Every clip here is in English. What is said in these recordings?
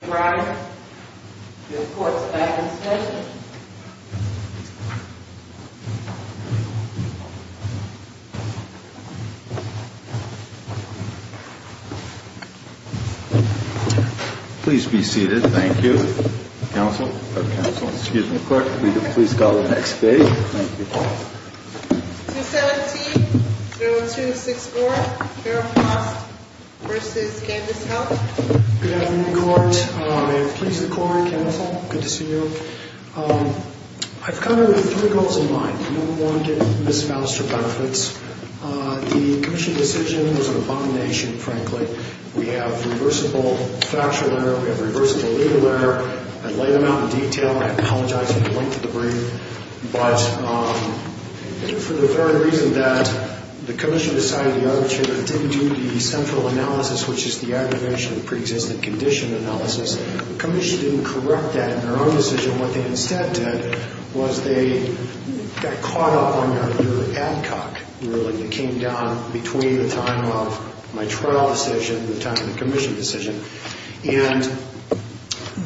Brian, your court's back in session. Please be seated. Thank you. Counsel, or counsel, excuse me, clerk, will you please call the next page? 217-0264, Harold Faust v. Kandis Health Good afternoon, court. May it please the court, counsel, good to see you. I've come here with three goals in mind. Number one, to get Ms. Faust her benefits. The commission decision was an abomination, frankly. We have reversible factual error, we have reversible legal error. I laid them out in detail. I apologize for the length of the brief. But for the very reason that the commission decided the other chamber didn't do the central analysis, which is the aggravation of pre-existing condition analysis, the commission didn't correct that in their own decision. What they instead did was they got caught up on your ad hoc ruling that came down between the time of my trial decision and the time of the commission decision. And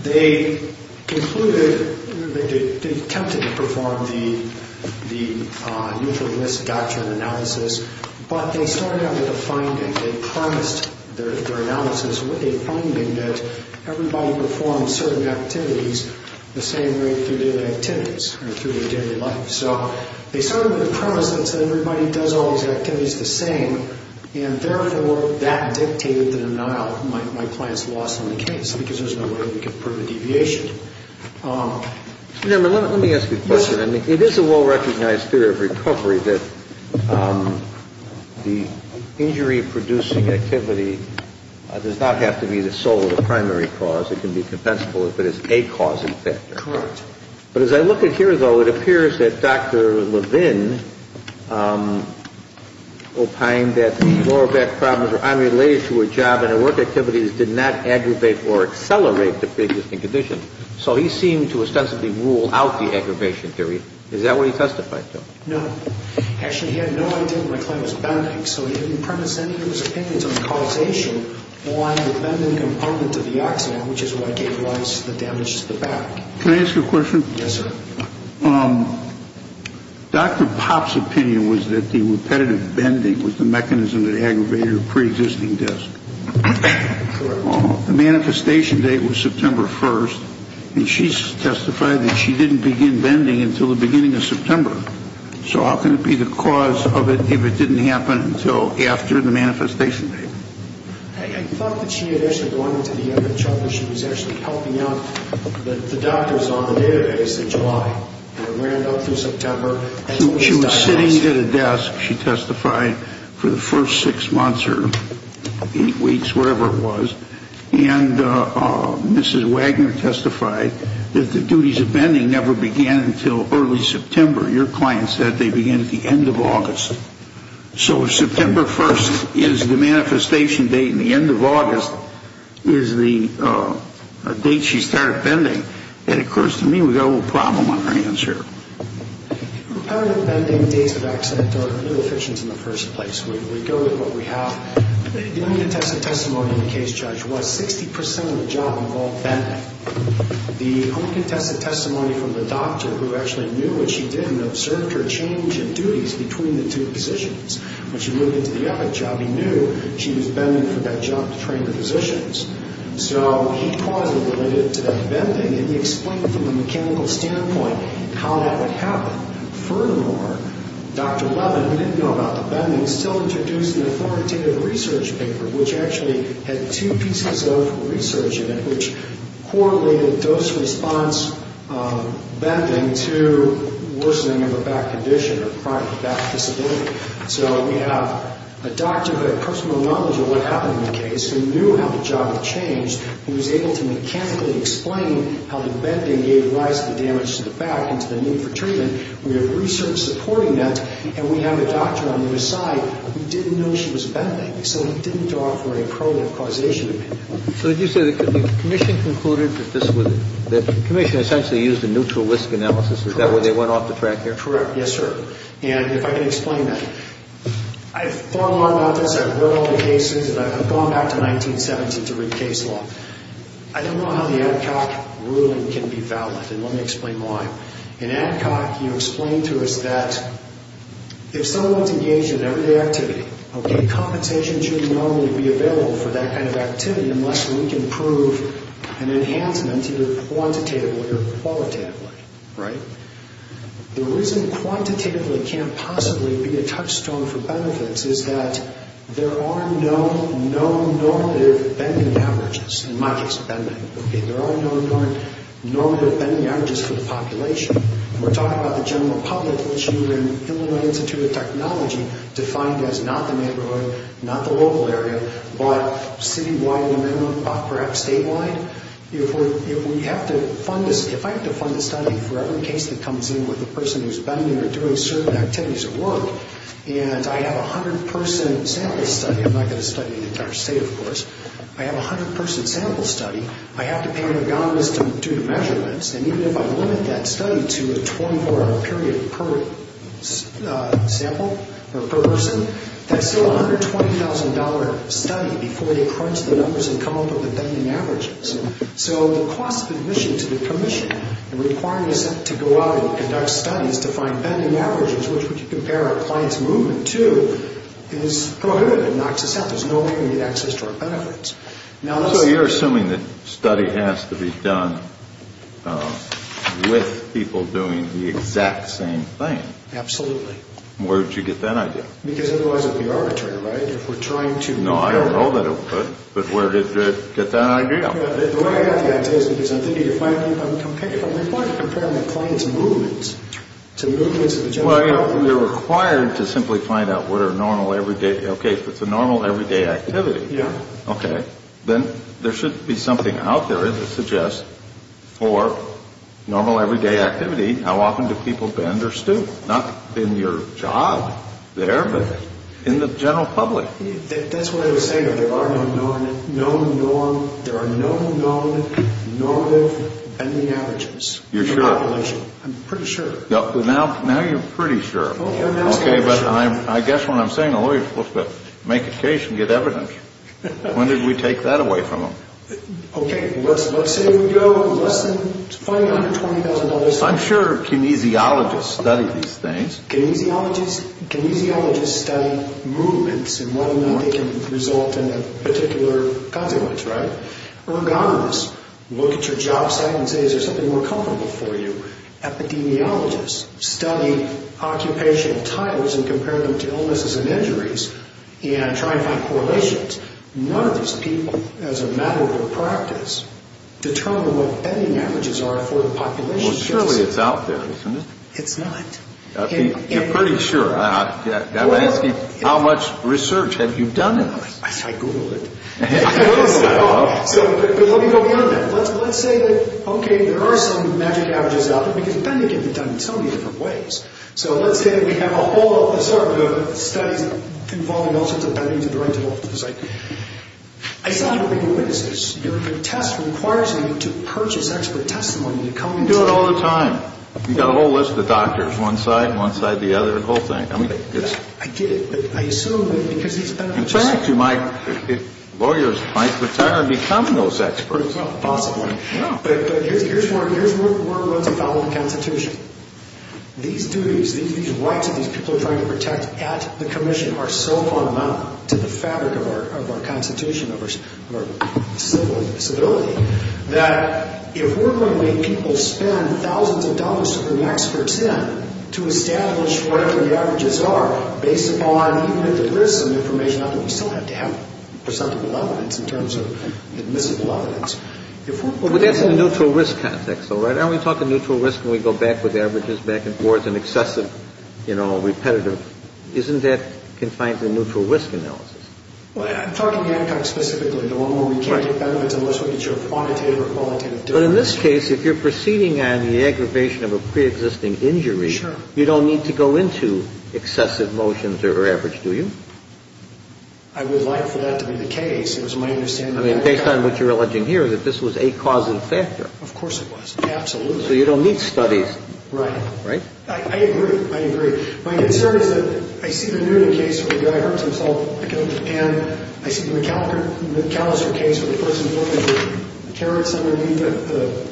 they concluded, they attempted to perform the neutral list doctrine analysis, but they started out with a finding. They promised their analysis with a finding that everybody performs certain activities the same way through daily activities or through their daily life. So they started with a premise that everybody does all these activities the same, and therefore, that dictated the denial, my client's loss on the case, because there's no way we could prove a deviation. Let me ask you a question. It is a well-recognized theory of recovery that the injury-producing activity does not have to be the sole or the primary cause. It can be compensable if it is a cause and factor. Correct. But as I look at here, though, it appears that Dr. Levin opined that lower back problems and work activities did not aggravate or accelerate the preexisting condition. So he seemed to ostensibly rule out the aggravation theory. Is that what he testified to? No. Actually, he had no idea my client was bending, so he didn't premise any of his opinions on the causation on the bending component of the accident, which is what gave rise to the damage to the back. Can I ask you a question? Yes, sir. Dr. Pop's opinion was that the repetitive bending was the mechanism that aggravated a preexisting disc. Correct. The manifestation date was September 1st, and she testified that she didn't begin bending until the beginning of September. So how can it be the cause of it if it didn't happen until after the manifestation date? I thought that she had actually gone into the end of trouble. She was actually helping out the doctors on the database in July, and it ran up through September. She was sitting at a desk, she testified, for the first six months or eight weeks, whatever it was, and Mrs. Wagner testified that the duties of bending never began until early September. Your client said they began at the end of August. So if September 1st is the manifestation date and the end of August is the date she started bending, that occurs to me we've got a little problem on our hands here. Repetitive bending dates of accident are inefficient in the first place. We go with what we have. The only contested testimony in the case, Judge, was 60% of the job involved bending. The only contested testimony from the doctor who actually knew what she did and observed her change in duties between the two positions. When she moved into the epic job, he knew she was bending for that job to train the physicians. So he caused it related to that bending, and he explained from a mechanical standpoint how that would happen. Furthermore, Dr. Levin, who didn't know about the bending, still introduced an authoritative research paper, which actually had two pieces of research in it, which correlated dose-response bending to worsening of a back condition or chronic back disability. So we have a doctor who had personal knowledge of what happened in the case, who knew how the job had changed. He was able to mechanically explain how the bending gave rise to the damage to the back and to the need for treatment. We have research supporting that, and we have a doctor on the other side who didn't know she was bending. So he didn't offer any probative causation. So did you say the commission concluded that this was – the commission essentially used a neutral risk analysis. Is that where they went off the track here? Correct, yes, sir. And if I can explain that. I've thought a lot about this. I've read all the cases, and I've gone back to 1970 to read case law. I don't know how the Adcock ruling can be valid, and let me explain why. In Adcock, he explained to us that if someone's engaged in everyday activity, okay, compensation shouldn't normally be available for that kind of activity unless we can prove an enhancement, either quantitatively or qualitatively, right? The reason quantitatively can't possibly be a touchstone for benefits is that there are no known normative bending averages. In my case, bending. Okay, there are no known normative bending averages for the population. We're talking about the general public, which you in Illinois Institute of Technology defined as not the neighborhood, not the local area, but citywide and perhaps statewide. If I have to fund a study for every case that comes in with a person who's bending or doing certain activities at work, and I have a 100-person sample study – I'm not going to study the entire state, of course. I have a 100-person sample study. I have to pay an agonist to do the measurements. And even if I limit that study to a 24-hour period per sample or per person, that's still a $120,000 study before they crunch the numbers and come up with the bending averages. So the cost of admission to the commission and requiring us to go out and conduct studies to find bending averages, which we can compare our client's movement to, is prohibited. It knocks us out. There's no way we can get access to our benefits. So you're assuming that study has to be done with people doing the exact same thing. Absolutely. Where did you get that idea? Because otherwise it would be arbitrary, right? No, I don't know that it would, but where did you get that idea? The way I got the idea is because I'm thinking of finding – I'm comparing my client's movements to movements of the general public. Well, you're required to simply find out what are normal everyday – okay, if it's a normal everyday activity. Yeah. Okay. Then there should be something out there that suggests for normal everyday activity, how often do people bend or stoop? Not in your job there, but in the general public. That's what I was saying. There are no known normative bending averages in the population. You're sure? I'm pretty sure. Now you're pretty sure. Okay, but I guess what I'm saying, a lawyer's supposed to make a case and get evidence. When did we take that away from them? Okay, let's say we go less than $120,000. I'm sure kinesiologists study these things. Kinesiologists study movements and whether or not they can result in a particular consequence, right? Ergonomists look at your job site and say, is there something more comfortable for you? Epidemiologists study occupational types and compare them to illnesses and injuries and try and find correlations. None of these people, as a matter of practice, determine what bending averages are for the population. Well, surely it's out there, isn't it? It's not. You're pretty sure. I'm asking how much research have you done in this? I googled it. But let me go beyond that. Let's say that, okay, there are some magic averages out there, because bending can be done in so many different ways. So let's say that we have a whole set of studies involving all sorts of bending to the right to the left of the site. I saw you reading witnesses. Your test requires you to purchase expert testimony to come and tell me. We do it all the time. We've got a whole list of doctors, one side, one side, the other, the whole thing. In fact, lawyers might retire and become those experts. Possibly. But here's where we're going to follow the Constitution. These duties, these rights that these people are trying to protect at the Commission are so fundamental to the fabric of our Constitution, of our civility, that if we're going to make people spend thousands of dollars to bring experts in to establish whatever the averages are based upon, even if there is some information out there, we still have to have perceptible evidence in terms of admissible evidence. But that's in a neutral risk context, though, right? Aren't we talking neutral risk when we go back with averages back and forth and excessive, you know, repetitive? Isn't that confined to neutral risk analysis? Well, I'm talking the outcome specifically, the one where we can't get benefits unless we get your quantitative or qualitative difference. But in this case, if you're proceeding on the aggravation of a preexisting injury, you don't need to go into excessive motions or average, do you? I would like for that to be the case. It was my understanding. I mean, based on what you're alleging here, that this was a causing factor. Of course it was. Absolutely. So you don't need studies. Right. Right? I agree. I agree. My concern is that I see the Noonan case where the guy hurts himself, and I see the McAllister case where the person is holding carrots underneath the,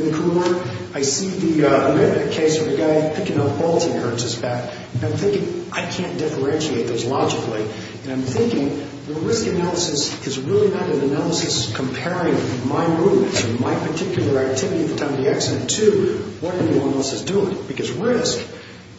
in the cooler. I see the Mitnick case where the guy picking up balls and hurts his back. And I'm thinking, I can't differentiate those logically. And I'm thinking the risk analysis is really not an analysis comparing my movements or my particular activity at the time of the accident to what anyone else is doing. Because risk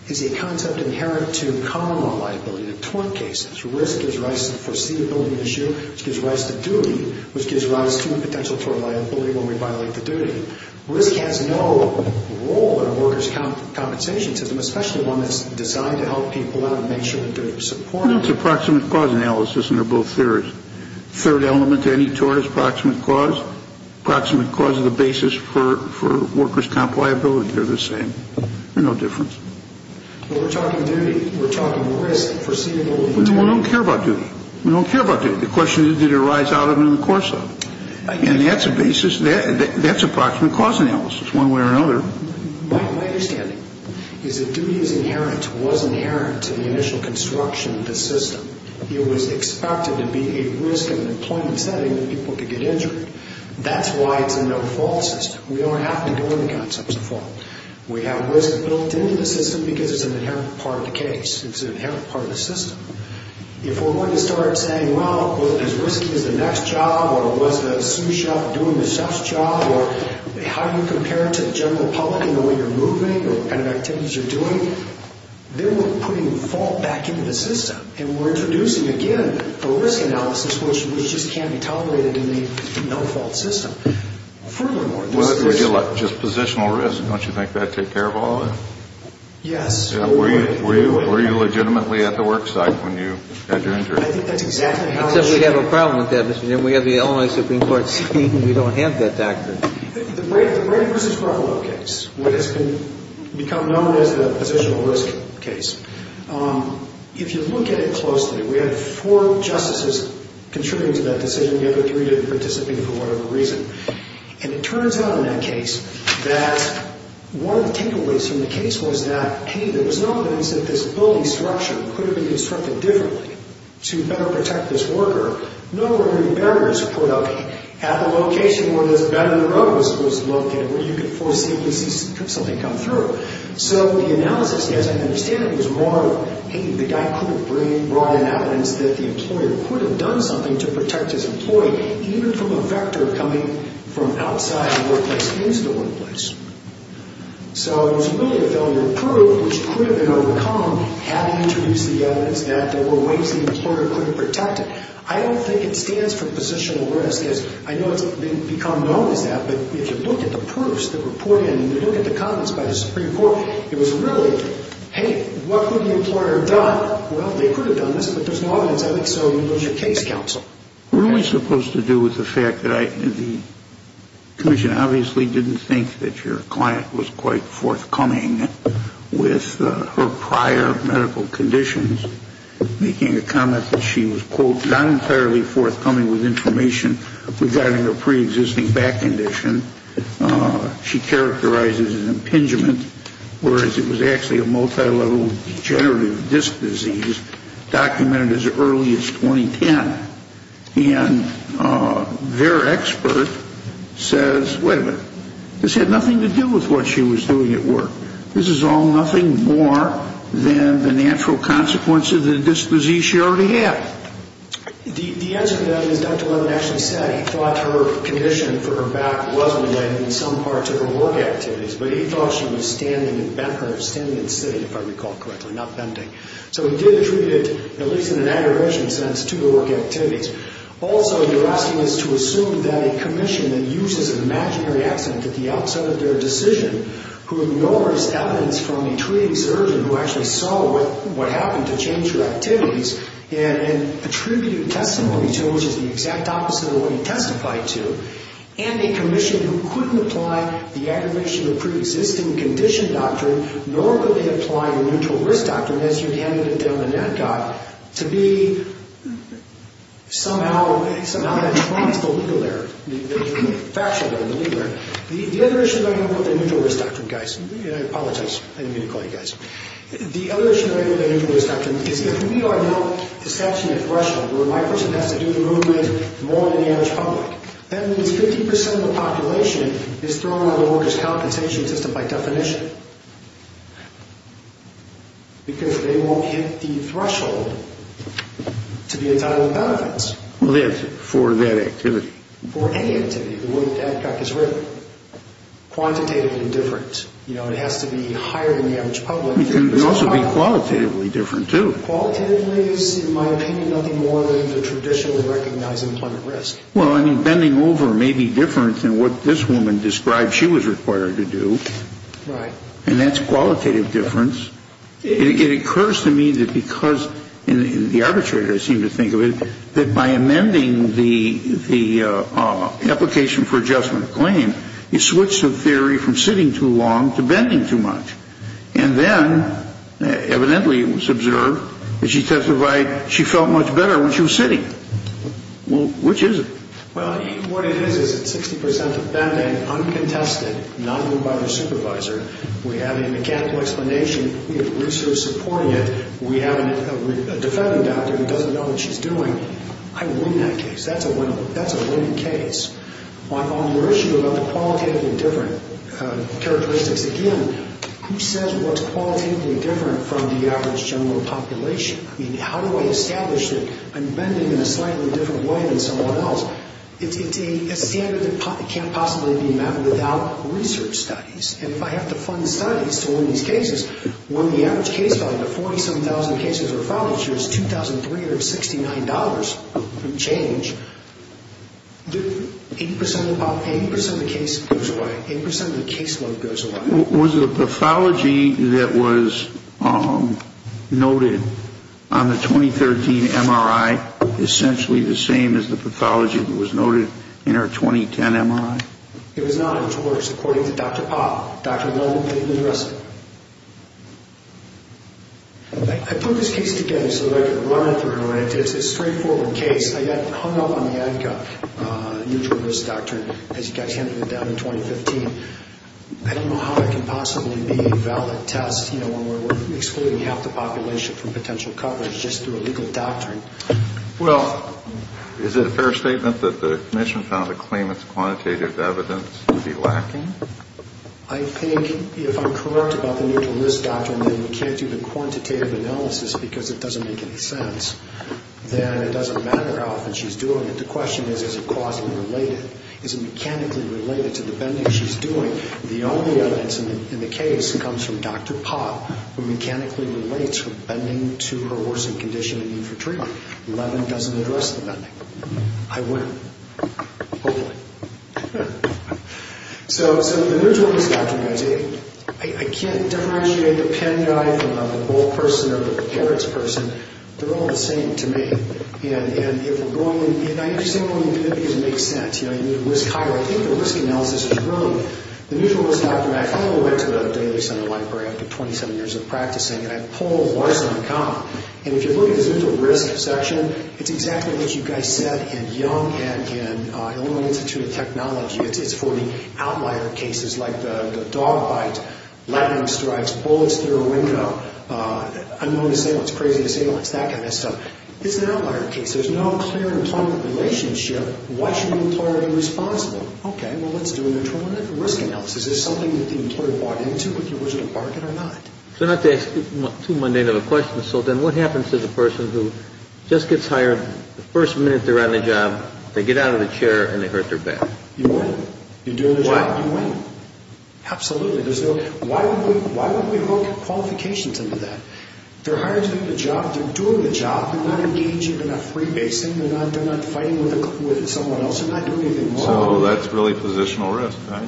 is a concept inherent to common law liability, the tort cases. Risk gives rise to the foreseeability issue, which gives rise to duty, which gives rise to the potential for liability when we violate the duty. Risk has no role in a workers' compensation system, especially one that's designed to help people out and make sure that they're supported. It's a proximate cause analysis, and they're both theories. The third element to any tort is proximate cause. Proximate cause is the basis for workers' comp liability. They're the same. They're no different. Well, we're talking duty. We're talking risk, foreseeability. We don't care about duty. We don't care about duty. The question is, did it arise out of it or in the course of it? And that's a basis. That's a proximate cause analysis one way or another. My understanding is that duty is inherent, was inherent to the initial construction of the system. It was expected to be a risk in an employment setting that people could get injured. That's why it's a no-fault system. We don't have to go into concepts of fault. We have risk built into the system because it's an inherent part of the case. It's an inherent part of the system. If we're going to start saying, well, is risky as the next job, or was the sous chef doing the chef's job, or how do you compare it to the general public in the way you're moving or the kind of activities you're doing, then we're putting fault back into the system, and we're introducing, again, a risk analysis which just can't be tolerated in the no-fault system. Furthermore, there's this risk. Just positional risk, don't you think that would take care of all of it? Yes. Were you legitimately at the work site when you had your injury? I think that's exactly how it should be. Except we have a problem with that, Mr. Jim. We have the Illinois Supreme Court saying we don't have that doctrine. The Brady v. Ruffalo case, what has become known as the positional risk case, if you look at it closely, we had four justices contributing to that decision. The other three didn't participate for whatever reason. And it turns out in that case that one of the takeaways from the case was that, hey, there was no evidence that this building structure could have been constructed differently to better protect this worker. No early barriers were put up at the location where this bed-in-the-road was located where you could foresee and see something come through. So the analysis, as I understand it, was more, hey, the guy could have brought in evidence that the employer could have done something to protect his employee, even from a vector coming from outside the workplace, into the workplace. So it was really a failure to prove which could have been overcome had he introduced the evidence that there were ways the employer could have protected. I don't think it stands for positional risk. I know it's become known as that. But if you look at the proofs that were poured in and you look at the comments by the Supreme Court, it was really, hey, what would the employer have done? Well, they could have done this, but there's no evidence. I think so you lose your case counsel. What are we supposed to do with the fact that the commission obviously didn't think that your client was quite forthcoming with her prior medical conditions, making a comment that she was, quote, not entirely forthcoming with information regarding her preexisting back condition. She characterized it as impingement, whereas it was actually a multilevel degenerative disc disease documented as early as 2010. And their expert says, wait a minute, this had nothing to do with what she was doing at work. This is all nothing more than the natural consequences of the disc disease she already had. The answer to that is Dr. Levin actually said he thought her condition for her back wasn't the way it was in some parts of her work activities, but he thought she was standing and bent her, standing and sitting, if I recall correctly, not bending. So he did treat it, at least in an aggravation sense, to her work activities. Also, you're asking us to assume that a commission that uses an imaginary accident at the outset of their decision, who ignores evidence from a treating surgeon who actually saw what happened to change her activities, and attributed testimony to, which is the exact opposite of what he testified to, and a commission who couldn't apply the aggravation of preexisting condition doctrine, nor could they apply the neutral risk doctrine, as your candidate down the net got, to be somehow that trumps the legal error, the factual error, the legal error. The other issue I have with the neutral risk doctrine, guys, and I apologize, I didn't mean to call you guys, the other issue I have with the neutral risk doctrine is if we are not accepting a threshold, where my person has to do the movement more than the average public, that means 50% of the population is thrown out of the workers' compensation system by definition, because they won't hit the threshold to be entitled to benefits. Well, that's it, for that activity. For any activity, the way that that doc is written. Quantitatively different. You know, it has to be higher than the average public. It can also be qualitatively different, too. Qualitatively is, in my opinion, nothing more than the traditionally recognized employment risk. Well, I mean, bending over may be different than what this woman described she was required to do. Right. And that's qualitative difference. It occurs to me that because, and the arbitrator seemed to think of it, that by amending the application for adjustment claim, you switch the theory from sitting too long to bending too much. And then, evidently it was observed that she testified she felt much better when she was sitting. Well, which is it? Well, what it is is it's 60% of bending uncontested, not ruled by the supervisor. We have a mechanical explanation. We have research supporting it. We have a defending doctor who doesn't know what she's doing. I win that case. That's a win case. On your issue about the qualitatively different characteristics, again, who says what's qualitatively different from the average general population? I mean, how do I establish that I'm bending in a slightly different way than someone else? It's a standard that can't possibly be met without research studies. And if I have to fund studies to win these cases, when the average case value of 47,000 cases or follow-ups is $2,369 from change, 80% of the case goes away. 80% of the case load goes away. Was the pathology that was noted on the 2013 MRI essentially the same as the pathology that was noted in her 2010 MRI? It was not. It was worse, according to Dr. Popp, Dr. Melvin Pennington Russell. I put this case together so that I could run it through. It's a straightforward case. I got hung up on the ADCA neutral risk doctrine, as you guys handled it down in 2015. I don't know how it can possibly be a valid test, you know, when we're excluding half the population from potential coverage just through a legal doctrine. Well, is it a fair statement that the commission found the claimant's quantitative evidence to be lacking? I think if I'm correct about the neutral risk doctrine, then we can't do the quantitative analysis because it doesn't make any sense. Then it doesn't matter how often she's doing it. The question is, is it causally related? Is it mechanically related to the bending she's doing? The only evidence in the case comes from Dr. Popp, who mechanically relates her bending to her worsening condition and need for treatment. Melvin doesn't address the bending. I will, hopefully. So the neutral risk doctrine, guys, I can't differentiate the pen guy from the ball person or the carrots person. They're all the same to me. And if we're going, and I understand why you think it doesn't make sense. You know, you need to risk higher. I think the risk analysis is wrong. The neutral risk doctrine, I finally went to a daily center library after 27 years of practicing, and I pulled Larson and Kahn. And if you look at his neutral risk section, it's exactly what you guys said in Young and in Illinois Institute of Technology. It's for the outlier cases like the dog bite, lightning strikes, bullets through a window, unknown disabled, crazy disabled, it's that kind of stuff. It's an outlier case. There's no clear employment relationship. Why should the employer be responsible? Okay, well, let's do a neutral risk analysis. Is this something that the employer bought into with the original bargain or not? So not to ask too mundane of a question, so then what happens to the person who just gets hired, the first minute they're on the job, they get out of the chair and they hurt their back? You win. You're doing the job, you win. Absolutely. Why would we hook qualifications into that? They're hired to do the job. They're doing the job. They're not engaging, they're not freebasing. They're not fighting with someone else. They're not doing anything wrong. So that's really positional risk, right?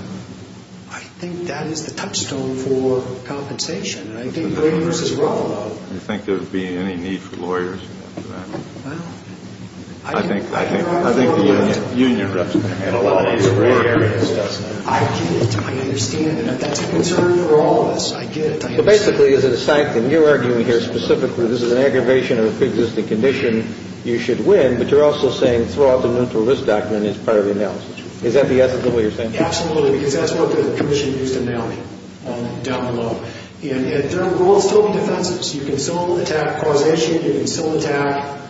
I think that is the touchstone for compensation. I think there is as well, though. Do you think there would be any need for lawyers for that? Well, I think there are lawyers. I think the union representatives in a lot of these areas does that. I get it. I understand. That's a concern for all of us. I get it. I understand. Basically, is it a sanction? You're arguing here specifically this is an aggravation of a pre-existing condition. You should win, but you're also saying throw out the mental risk doctrine as part of the analysis. Is that the ethical way you're saying it? Absolutely, because that's what the commission used to nail me down below. And there will still be defenses. You can still attack causation. You can still attack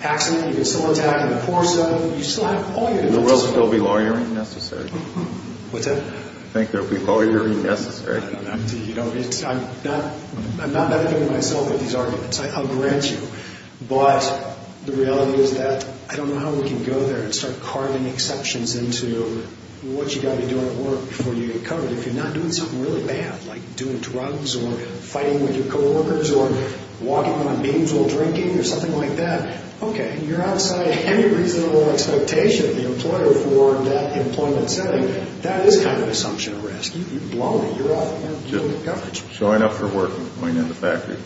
accident. You can still attack in the course of. You still have all your defenses. There will still be lawyering necessary. What's that? I think there will be lawyering necessary. I'm not badmouthing myself with these arguments. I'll grant you. But the reality is that I don't know how we can go there and start carving exceptions into what you've got to be doing at work before you get COVID. If you're not doing something really bad like doing drugs or fighting with your coworkers or walking around meetings while drinking or something like that, okay, you're outside any reasonable expectation of the employer for that employment setting. That is kind of an assumption of risk. You've blown it. You're out of government coverage. Showing up for work and going in the factory.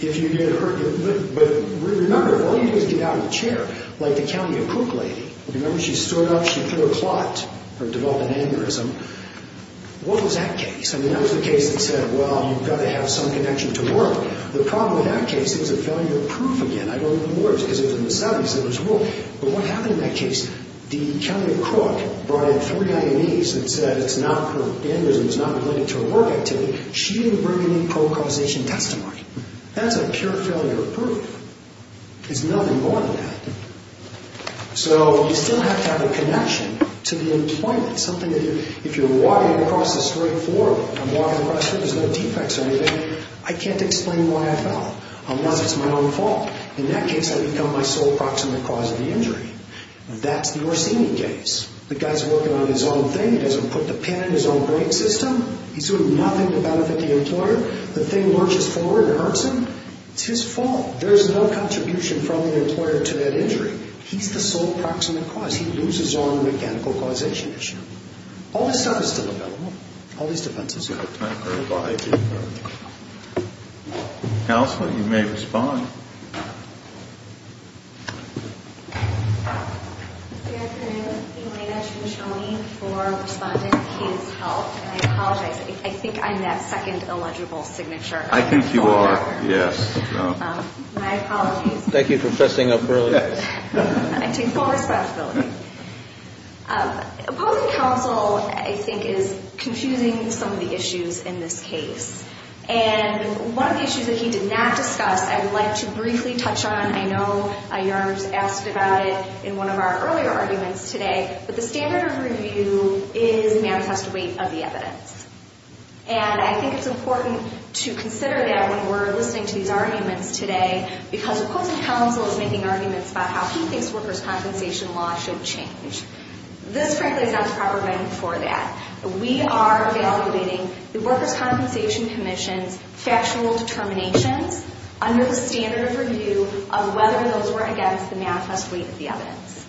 If you get hurt, but remember, if all you do is get out of the chair, like the County of Crook lady, remember, she stood up, she threw a clot, or developed an aneurysm. What was that case? I mean, that was the case that said, well, you've got to have some connection to work. The problem with that case is a failure of proof again. I don't know the words, because in the studies it was wrong. But what happened in that case? The County of Crook brought in three IMEs and said the aneurysm is not related to a work activity. She didn't bring any pro-causation testimony. That's a pure failure of proof. There's nothing more than that. So you still have to have a connection to the employment, something that if you're walking across the street, I'm walking across the street, there's no defects or anything, I can't explain why I fell unless it's my own fault. In that case, I become my sole proximate cause of the injury. That's the Orsini case. The guy's working on his own thing. He doesn't put the pin in his own brain system. He's doing nothing to benefit the employer. The thing lurches forward and hurts him. It's his fault. There's no contribution from the employer to that injury. He's the sole proximate cause. He loses on the mechanical causation issue. All this stuff is still available. All these defenses are still available. Counsel, you may respond. Good afternoon. Elena Ciancioni for Respondent Kids Health. I apologize. I think I'm that second illegible signature. I think you are, yes. My apologies. Thank you for fessing up early. I take full responsibility. Opposing counsel, I think, is confusing some of the issues in this case. And one of the issues that he did not discuss, I would like to briefly touch on. I know your Honor's asked about it in one of our earlier arguments today. But the standard of review is manifest weight of the evidence. And I think it's important to consider that when we're listening to these arguments today. Because opposing counsel is making arguments about how he thinks workers' compensation law should change. This, frankly, is not the proper venue for that. We are evaluating the Workers' Compensation Commission's factual determinations under the standard of review of whether those were against the manifest weight of the evidence.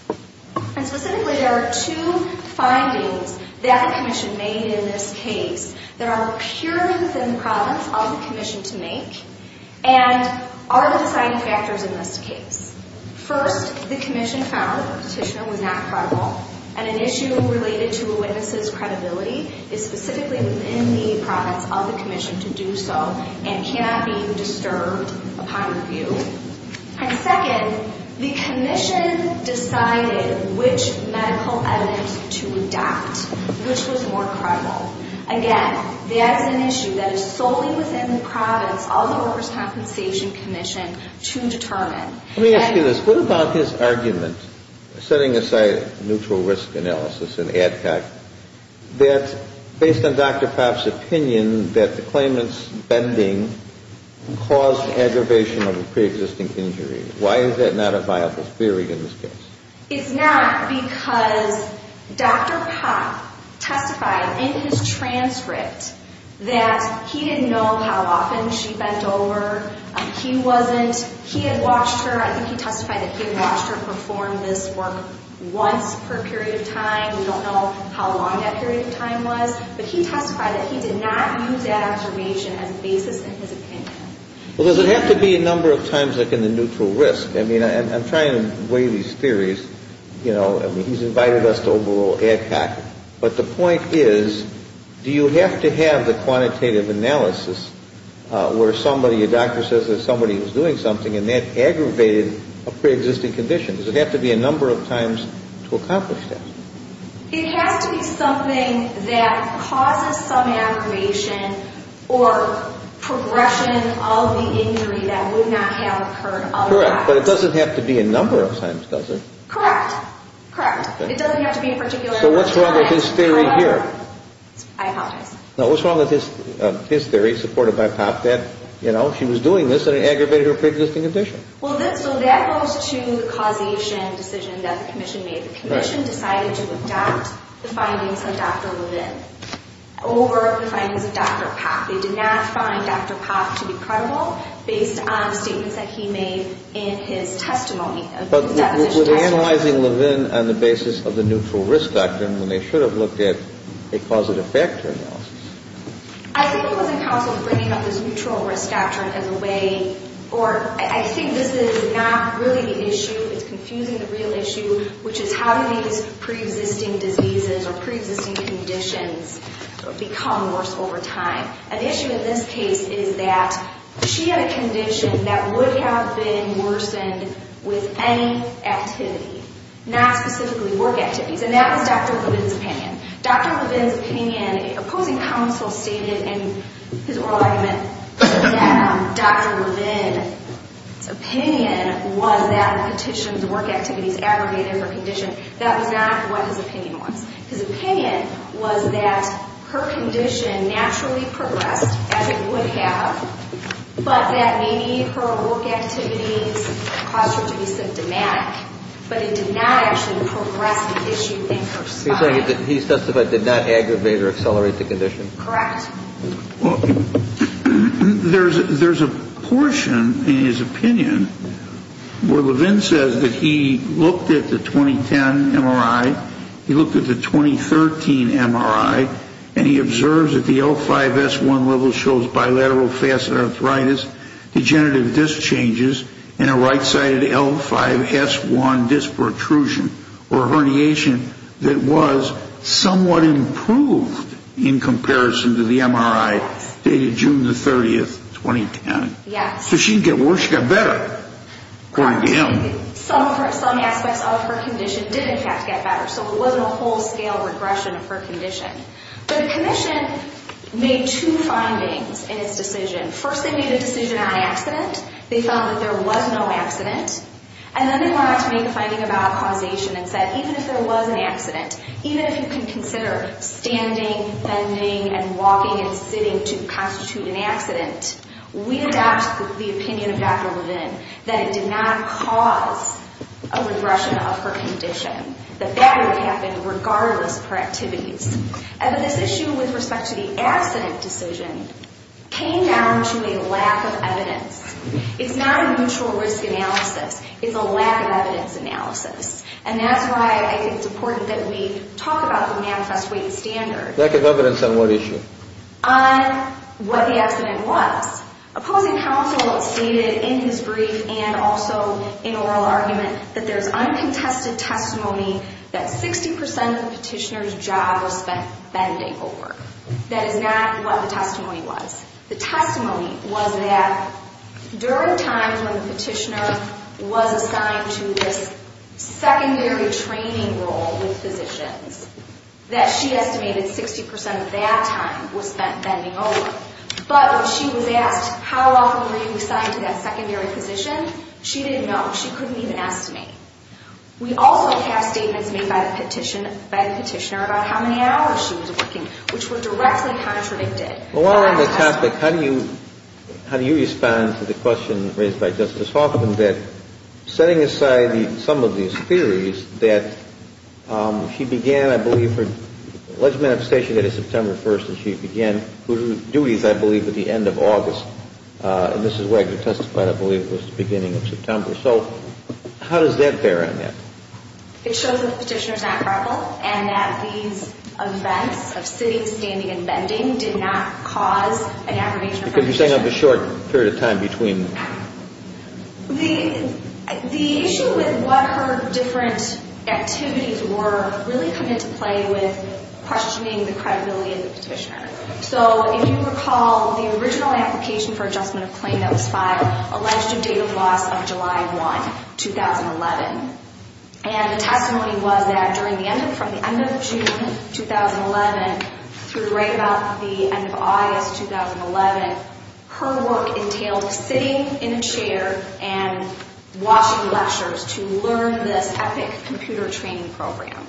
And specifically, there are two findings that the Commission made in this case that are purely within the province of the Commission to make. And are the deciding factors in this case. First, the Commission found that the petitioner was not credible. And an issue related to a witness' credibility is specifically within the province of the Commission to do so and cannot be disturbed upon review. And second, the Commission decided which medical evidence to adopt, which was more credible. Again, that's an issue that is solely within the province of the Workers' Compensation Commission to determine. Let me ask you this. What about his argument, setting aside neutral risk analysis and ADCOC, that based on Dr. Popp's opinion that the claimant's bending caused aggravation of a preexisting injury? Why is that not a viable theory in this case? It's not because Dr. Popp testified in his transcript that he didn't know how often she bent over. He wasn't – he had watched her. I think he testified that he had watched her perform this work once per period of time. We don't know how long that period of time was. But he testified that he did not use that observation as a basis in his opinion. Well, does it have to be a number of times like in the neutral risk? I mean, I'm trying to weigh these theories. You know, I mean, he's invited us to overrule ADCOC. But the point is, do you have to have the quantitative analysis where somebody – a doctor says that somebody was doing something and that aggravated a preexisting condition? Does it have to be a number of times to accomplish that? It has to be something that causes some aggravation or progression of the injury that would not have occurred otherwise. Correct. But it doesn't have to be a number of times, does it? Correct. Correct. It doesn't have to be a particular number of times. So what's wrong with his theory here? I apologize. No, what's wrong with his theory supported by Popp that, you know, she was doing this and it aggravated her preexisting condition? Well, that goes to the causation decision that the commission made. The commission decided to adopt the findings of Dr. Levin over the findings of Dr. Popp. They did not find Dr. Popp to be credible based on statements that he made in his testimony. But were they analyzing Levin on the basis of the neutral risk factor when they should have looked at a causative factor analysis? I think it wasn't counsel bringing up this neutral risk factor in a way – or I think this is not really the issue, it's confusing the real issue, which is how do these preexisting diseases or preexisting conditions become worse over time? And the issue in this case is that she had a condition that would have been worsened with any activity, not specifically work activities. And that was Dr. Levin's opinion. Dr. Levin's opinion – opposing counsel stated in his oral argument that Dr. Levin's opinion was that the petition's work activities aggravated her condition. That was not what his opinion was. His opinion was that her condition naturally progressed, as it would have, but that maybe her work activities caused her to be symptomatic. But it did not actually progress the issue in her spine. He said that he testified that it did not aggravate or accelerate the condition. Correct. There's a portion in his opinion where Levin says that he looked at the 2010 MRI, he looked at the 2013 MRI, and he observes that the L5-S1 level shows bilateral facet arthritis, degenerative disc changes, and a right-sided L5-S1 disc protrusion, or a herniation that was somewhat improved in comparison to the MRI dated June 30, 2010. Yes. So she didn't get worse, she got better, according to him. Some aspects of her condition did, in fact, get better, so it wasn't a whole-scale regression of her condition. But the commission made two findings in its decision. First, they made a decision on accident. They found that there was no accident. And then they went on to make a finding about causation and said, even if there was an accident, even if you can consider standing, bending, and walking and sitting to constitute an accident, we adopt the opinion of Dr. Levin that it did not cause a regression of her condition, that that would happen regardless of her activities. But this issue with respect to the accident decision came down to a lack of evidence. It's not a mutual risk analysis. It's a lack of evidence analysis. And that's why I think it's important that we talk about the manifest weight standard. Lack of evidence on what issue? On what the accident was. Opposing counsel stated in his brief and also in oral argument that there's uncontested testimony that 60% of the petitioner's job was bending over. That is not what the testimony was. The testimony was that during times when the petitioner was assigned to this secondary training role with physicians, that she estimated 60% of that time was spent bending over. But when she was asked how often were you assigned to that secondary position, she didn't know. She couldn't even estimate. We also have statements made by the petitioner about how many hours she was working, which were directly contradicted. Well, while we're on the topic, how do you respond to the question raised by Justice Hoffman that setting aside some of these theories that she began, I believe, her alleged manifestation date is September 1st, and she began her duties, I believe, at the end of August. And this is where I could testify that I believe it was the beginning of September. So how does that bear on that? It shows that the petitioner is not credible and that these events of sitting, standing, and bending did not cause an aggravation of the petitioner. You're saying of the short period of time between. The issue with what her different activities were really come into play with questioning the credibility of the petitioner. So if you recall, the original application for adjustment of claim that was filed alleged a date of loss of July 1, 2011. And the testimony was that from the end of June 2011 through right about the end of August 2011, her work entailed sitting in a chair and watching lectures to learn this epic computer training program.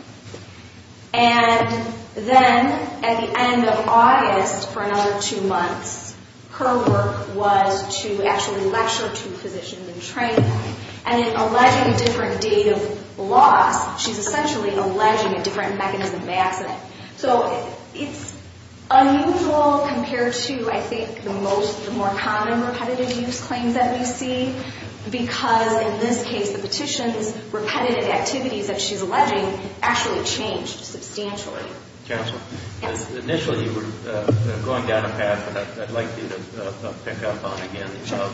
And then at the end of August for another two months, her work was to actually lecture to physicians in training. And in alleging a different date of loss, she's essentially alleging a different mechanism of accident. So it's unusual compared to, I think, the most, the more common repetitive use claims that we see, because in this case, the petition's repetitive activities that she's alleging actually changed substantially. Counselor. Yes. Initially, you were going down a path that I'd like you to pick up on again,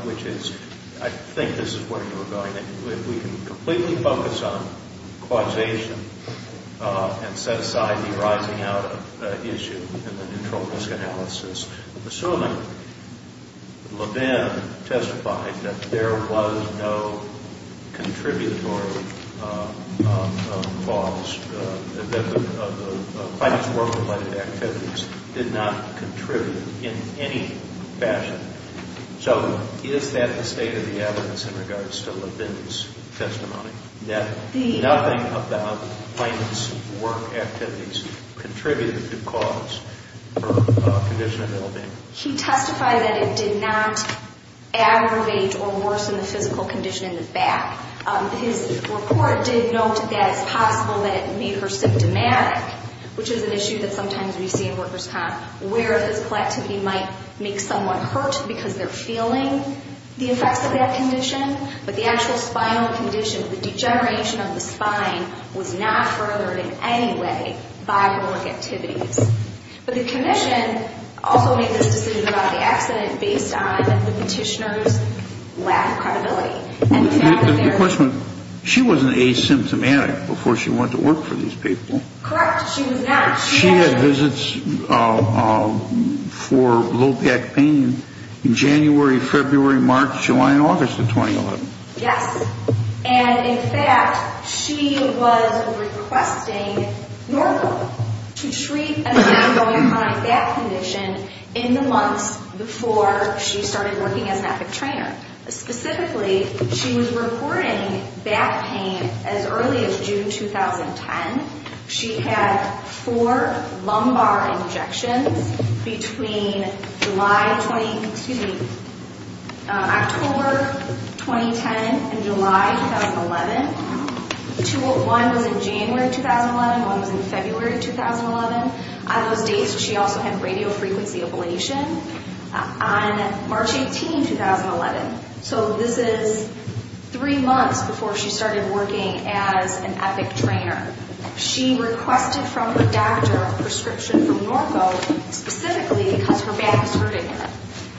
which is I think this is where you were going. If we can completely focus on causation and set aside the rising out of issue in the neutral risk analysis, assuming Levin testified that there was no contributory falls, that the financial work-related activities did not contribute in any fashion. So is that the state of the evidence in regards to Levin's testimony, that nothing about plaintiff's work activities contributed to cause or condition of ill-being? He testified that it did not aggravate or worsen the physical condition in the back. His report did note that it's possible that it made her symptomatic, which is an issue that sometimes we see in workers' comp, where physical activity might make someone hurt because they're feeling the effects of that condition. But the actual spinal condition, the degeneration of the spine, was not furthered in any way by work activities. But the commission also made this decision about the accident based on the petitioner's lack of credibility. The question, she wasn't asymptomatic before she went to work for these people. Correct. She was not. She had visits for low back pain in January, February, March, July, and August of 2011. Yes. And, in fact, she was requesting normal to treat an ongoing chronic back condition in the months before she started working as an epic trainer. Specifically, she was reporting back pain as early as June 2010. She had four lumbar injections between October 2010 and July 2011. One was in January 2011. One was in February 2011. On those dates, she also had radiofrequency ablation on March 18, 2011. So this is three months before she started working as an epic trainer. She requested from her doctor a prescription from Norco specifically because her back was hurting her.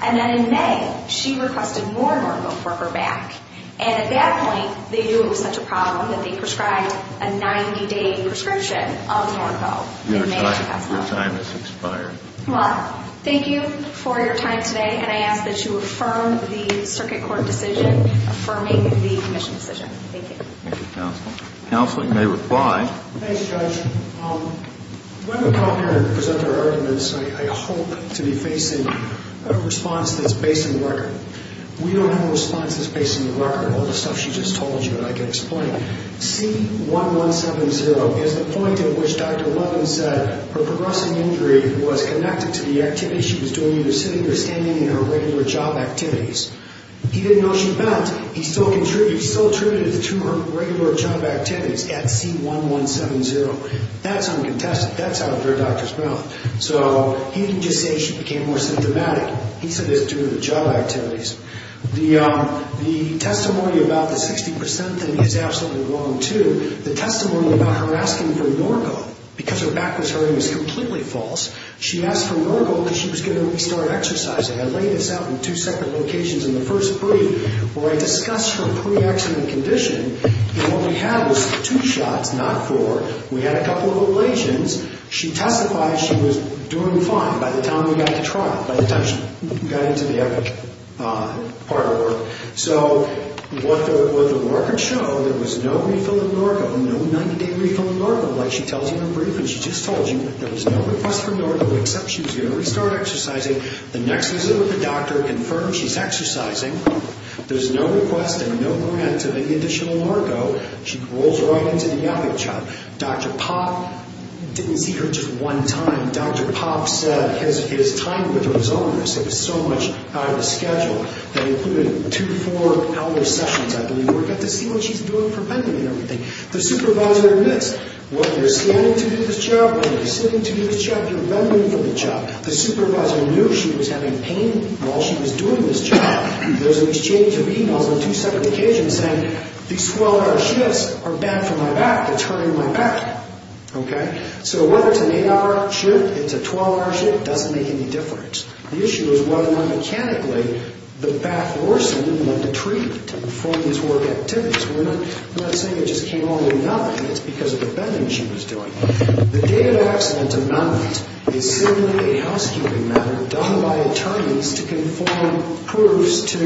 And then in May, she requested more Norco for her back. And at that point, they knew it was such a problem that they prescribed a 90-day prescription of Norco. Your time has expired. Well, thank you for your time today, and I ask that you affirm the circuit court decision affirming the admission decision. Thank you. Thank you, Counsel. Counsel, you may reply. Thanks, Judge. When we come here to present our arguments, I hope to be facing a response that's based on the record. We don't have a response that's based on the record, all the stuff she just told you that I can explain. C1170 is the point at which Dr. Levin said her progressing injury was connected to the activities she was doing either sitting or standing in her regular job activities. He didn't know she bent. He still contributed to her regular job activities at C1170. That's uncontested. That's out of her doctor's mouth. So he didn't just say she became more symptomatic. He said it's due to the job activities. The testimony about the 60% thing is absolutely wrong, too. The testimony about her asking for Norco because her back was hurting is completely false. She asked for Norco because she was going to restart exercising. I laid this out in two separate locations in the first brief where I discussed her pre-accident condition, and what we had was two shots, not four. We had a couple of ovulations. She testified she was doing fine by the time we got to trial, by the time she got into the epic part of it. So what the records show, there was no refill of Norco, no 90-day refill of Norco like she tells you in her brief. And she just told you there was no request for Norco except she was going to restart exercising. The next visit with the doctor confirms she's exercising. There's no request and no grant to make additional Norco. She rolls right into the epic shot. Dr. Popp didn't see her just one time. Dr. Popp said his time with her was onerous. It was so much out of the schedule. They included two four-hour sessions, I believe, where we got to see what she's doing for bending and everything. The supervisor admits, whether you're standing to do this job or you're sitting to do this job, you're bending for the job. The supervisor knew she was having pain while she was doing this job. There's an exchange of e-mails on two separate occasions saying, these 12-hour shifts are bad for my back, it's hurting my back. So whether it's an eight-hour shift, it's a 12-hour shift, doesn't make any difference. The issue is whether or not, mechanically, the back worsened and went to treatment for these work activities. We're not saying it just came along with nothing. It's because of the bending she was doing. The date of accident amendment is simply a housekeeping matter done by attorneys to conform proofs to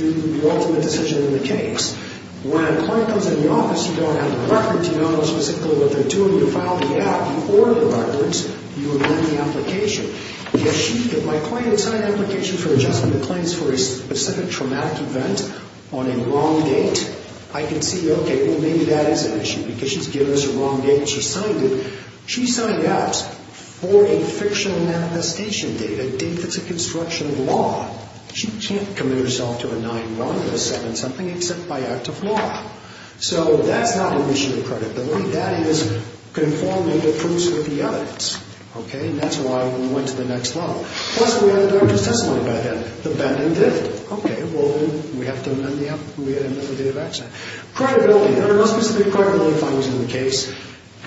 the ultimate decision in the case. When a client comes in the office, you don't have a record, you don't know specifically what they're doing. You file the app, you order the records, you amend the application. If my client has signed an application for adjustment of claims for a specific traumatic event on a wrong date, I can see, okay, well maybe that is an issue because she's given us a wrong date and she's signed it. She signed out for a fictional manifestation date, a date that's a construction law. She can't commit herself to a 9-1 or a 7-something except by act of law. So that's not an issue of credibility. That is conforming the proofs with the evidence. Okay? And that's why we went to the next level. Plus, we had a doctor's testimony about that. The bending did. Okay. Well, we have to amend the app. We had a method of date of accident. Credibility. There are no specific credibility findings in the case.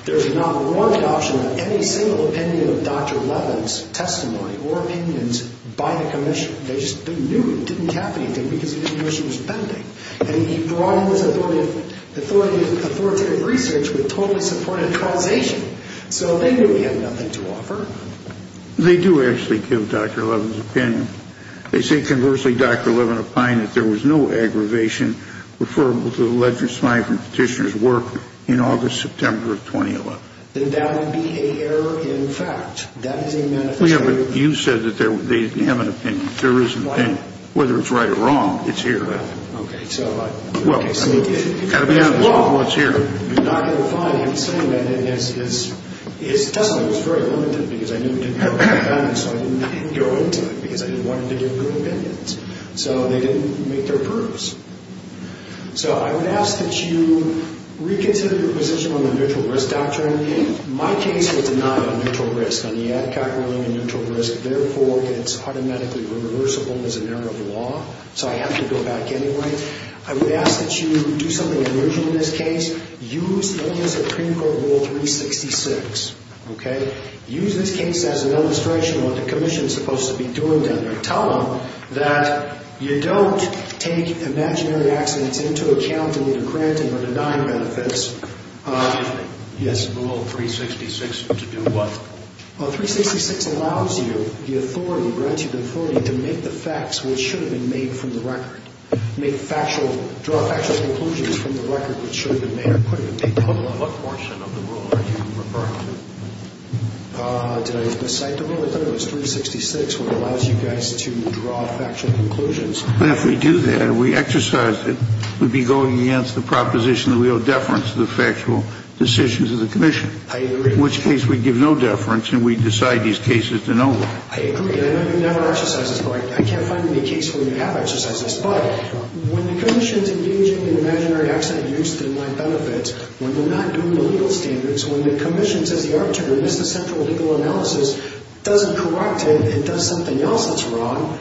There's not one option of any single opinion of Dr. Levin's testimony or opinions by the commission. They just knew it didn't have anything because the commission was bending. And he brought in this authority of authoritative research which totally supported causation. They do actually give Dr. Levin's opinion. They say, conversely, Dr. Levin opined that there was no aggravation referable to the alleged smiling from Petitioner's work in August, September of 2011. Then that would be an error in fact. That is a manifestation. Well, yeah, but you said that they have an opinion. There is an opinion. Whether it's right or wrong, it's here. Okay. Well, it's got to be honest with what's here. You're not going to find him saying that in his testimony. It was very limited because I knew he didn't have a good opinion. So I didn't go into it because I didn't want him to give good opinions. So they didn't make their proofs. So I would ask that you reconsider your position on the neutral risk doctrine. My case was denied a neutral risk. On the Adcock ruling, a neutral risk, therefore, it's automatically reversible as an error of the law. So I have to go back anyway. I would ask that you do something unusual in this case. Use the ideas of Creme Court Rule 366. Okay? Use this case as an illustration of what the Commission is supposed to be doing down there. Tell them that you don't take imaginary accidents into account in either granting or denying benefits. Excuse me. Yes. Rule 366 to do what? Well, 366 allows you, the authority, granted authority, to make the facts which should have been made from the record. Make factual, draw factual conclusions from the record which should have been made. What portion of the rule are you referring to? Did I miscite the rule? I thought it was 366, which allows you guys to draw factual conclusions. If we do that and we exercise it, we'd be going against the proposition that we owe deference to the factual decisions of the Commission. I agree. In which case, we give no deference and we decide these cases to no one. I agree. I know you've never exercised this, but I can't find any case where you have exercised this. But when the Commission is engaging in imaginary accident use to deny benefits, when they're not doing the legal standards, when the Commission says the arbitrator missed the central legal analysis, doesn't correct it, and does something else that's wrong,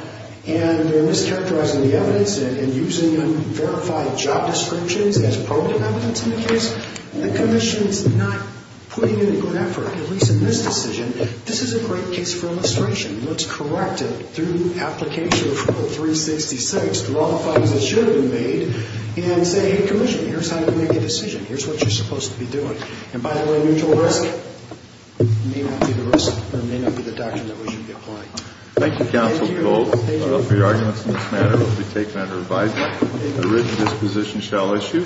and they're mischaracterizing the evidence and using unverified job descriptions as probative evidence in the case, the Commission's not putting in a good effort, at least in this decision. This is a great case for illustration. Let's correct it through application of rule 366, through all the fines that should have been made, and say, hey, Commission, here's how you make a decision. Here's what you're supposed to be doing. And by the way, mutual risk may not be the risk or may not be the doctrine that we should be applying. Thank you, Counsel Cole. Thank you. The rest of your arguments in this matter will be taken under revisal. The written disposition shall issue.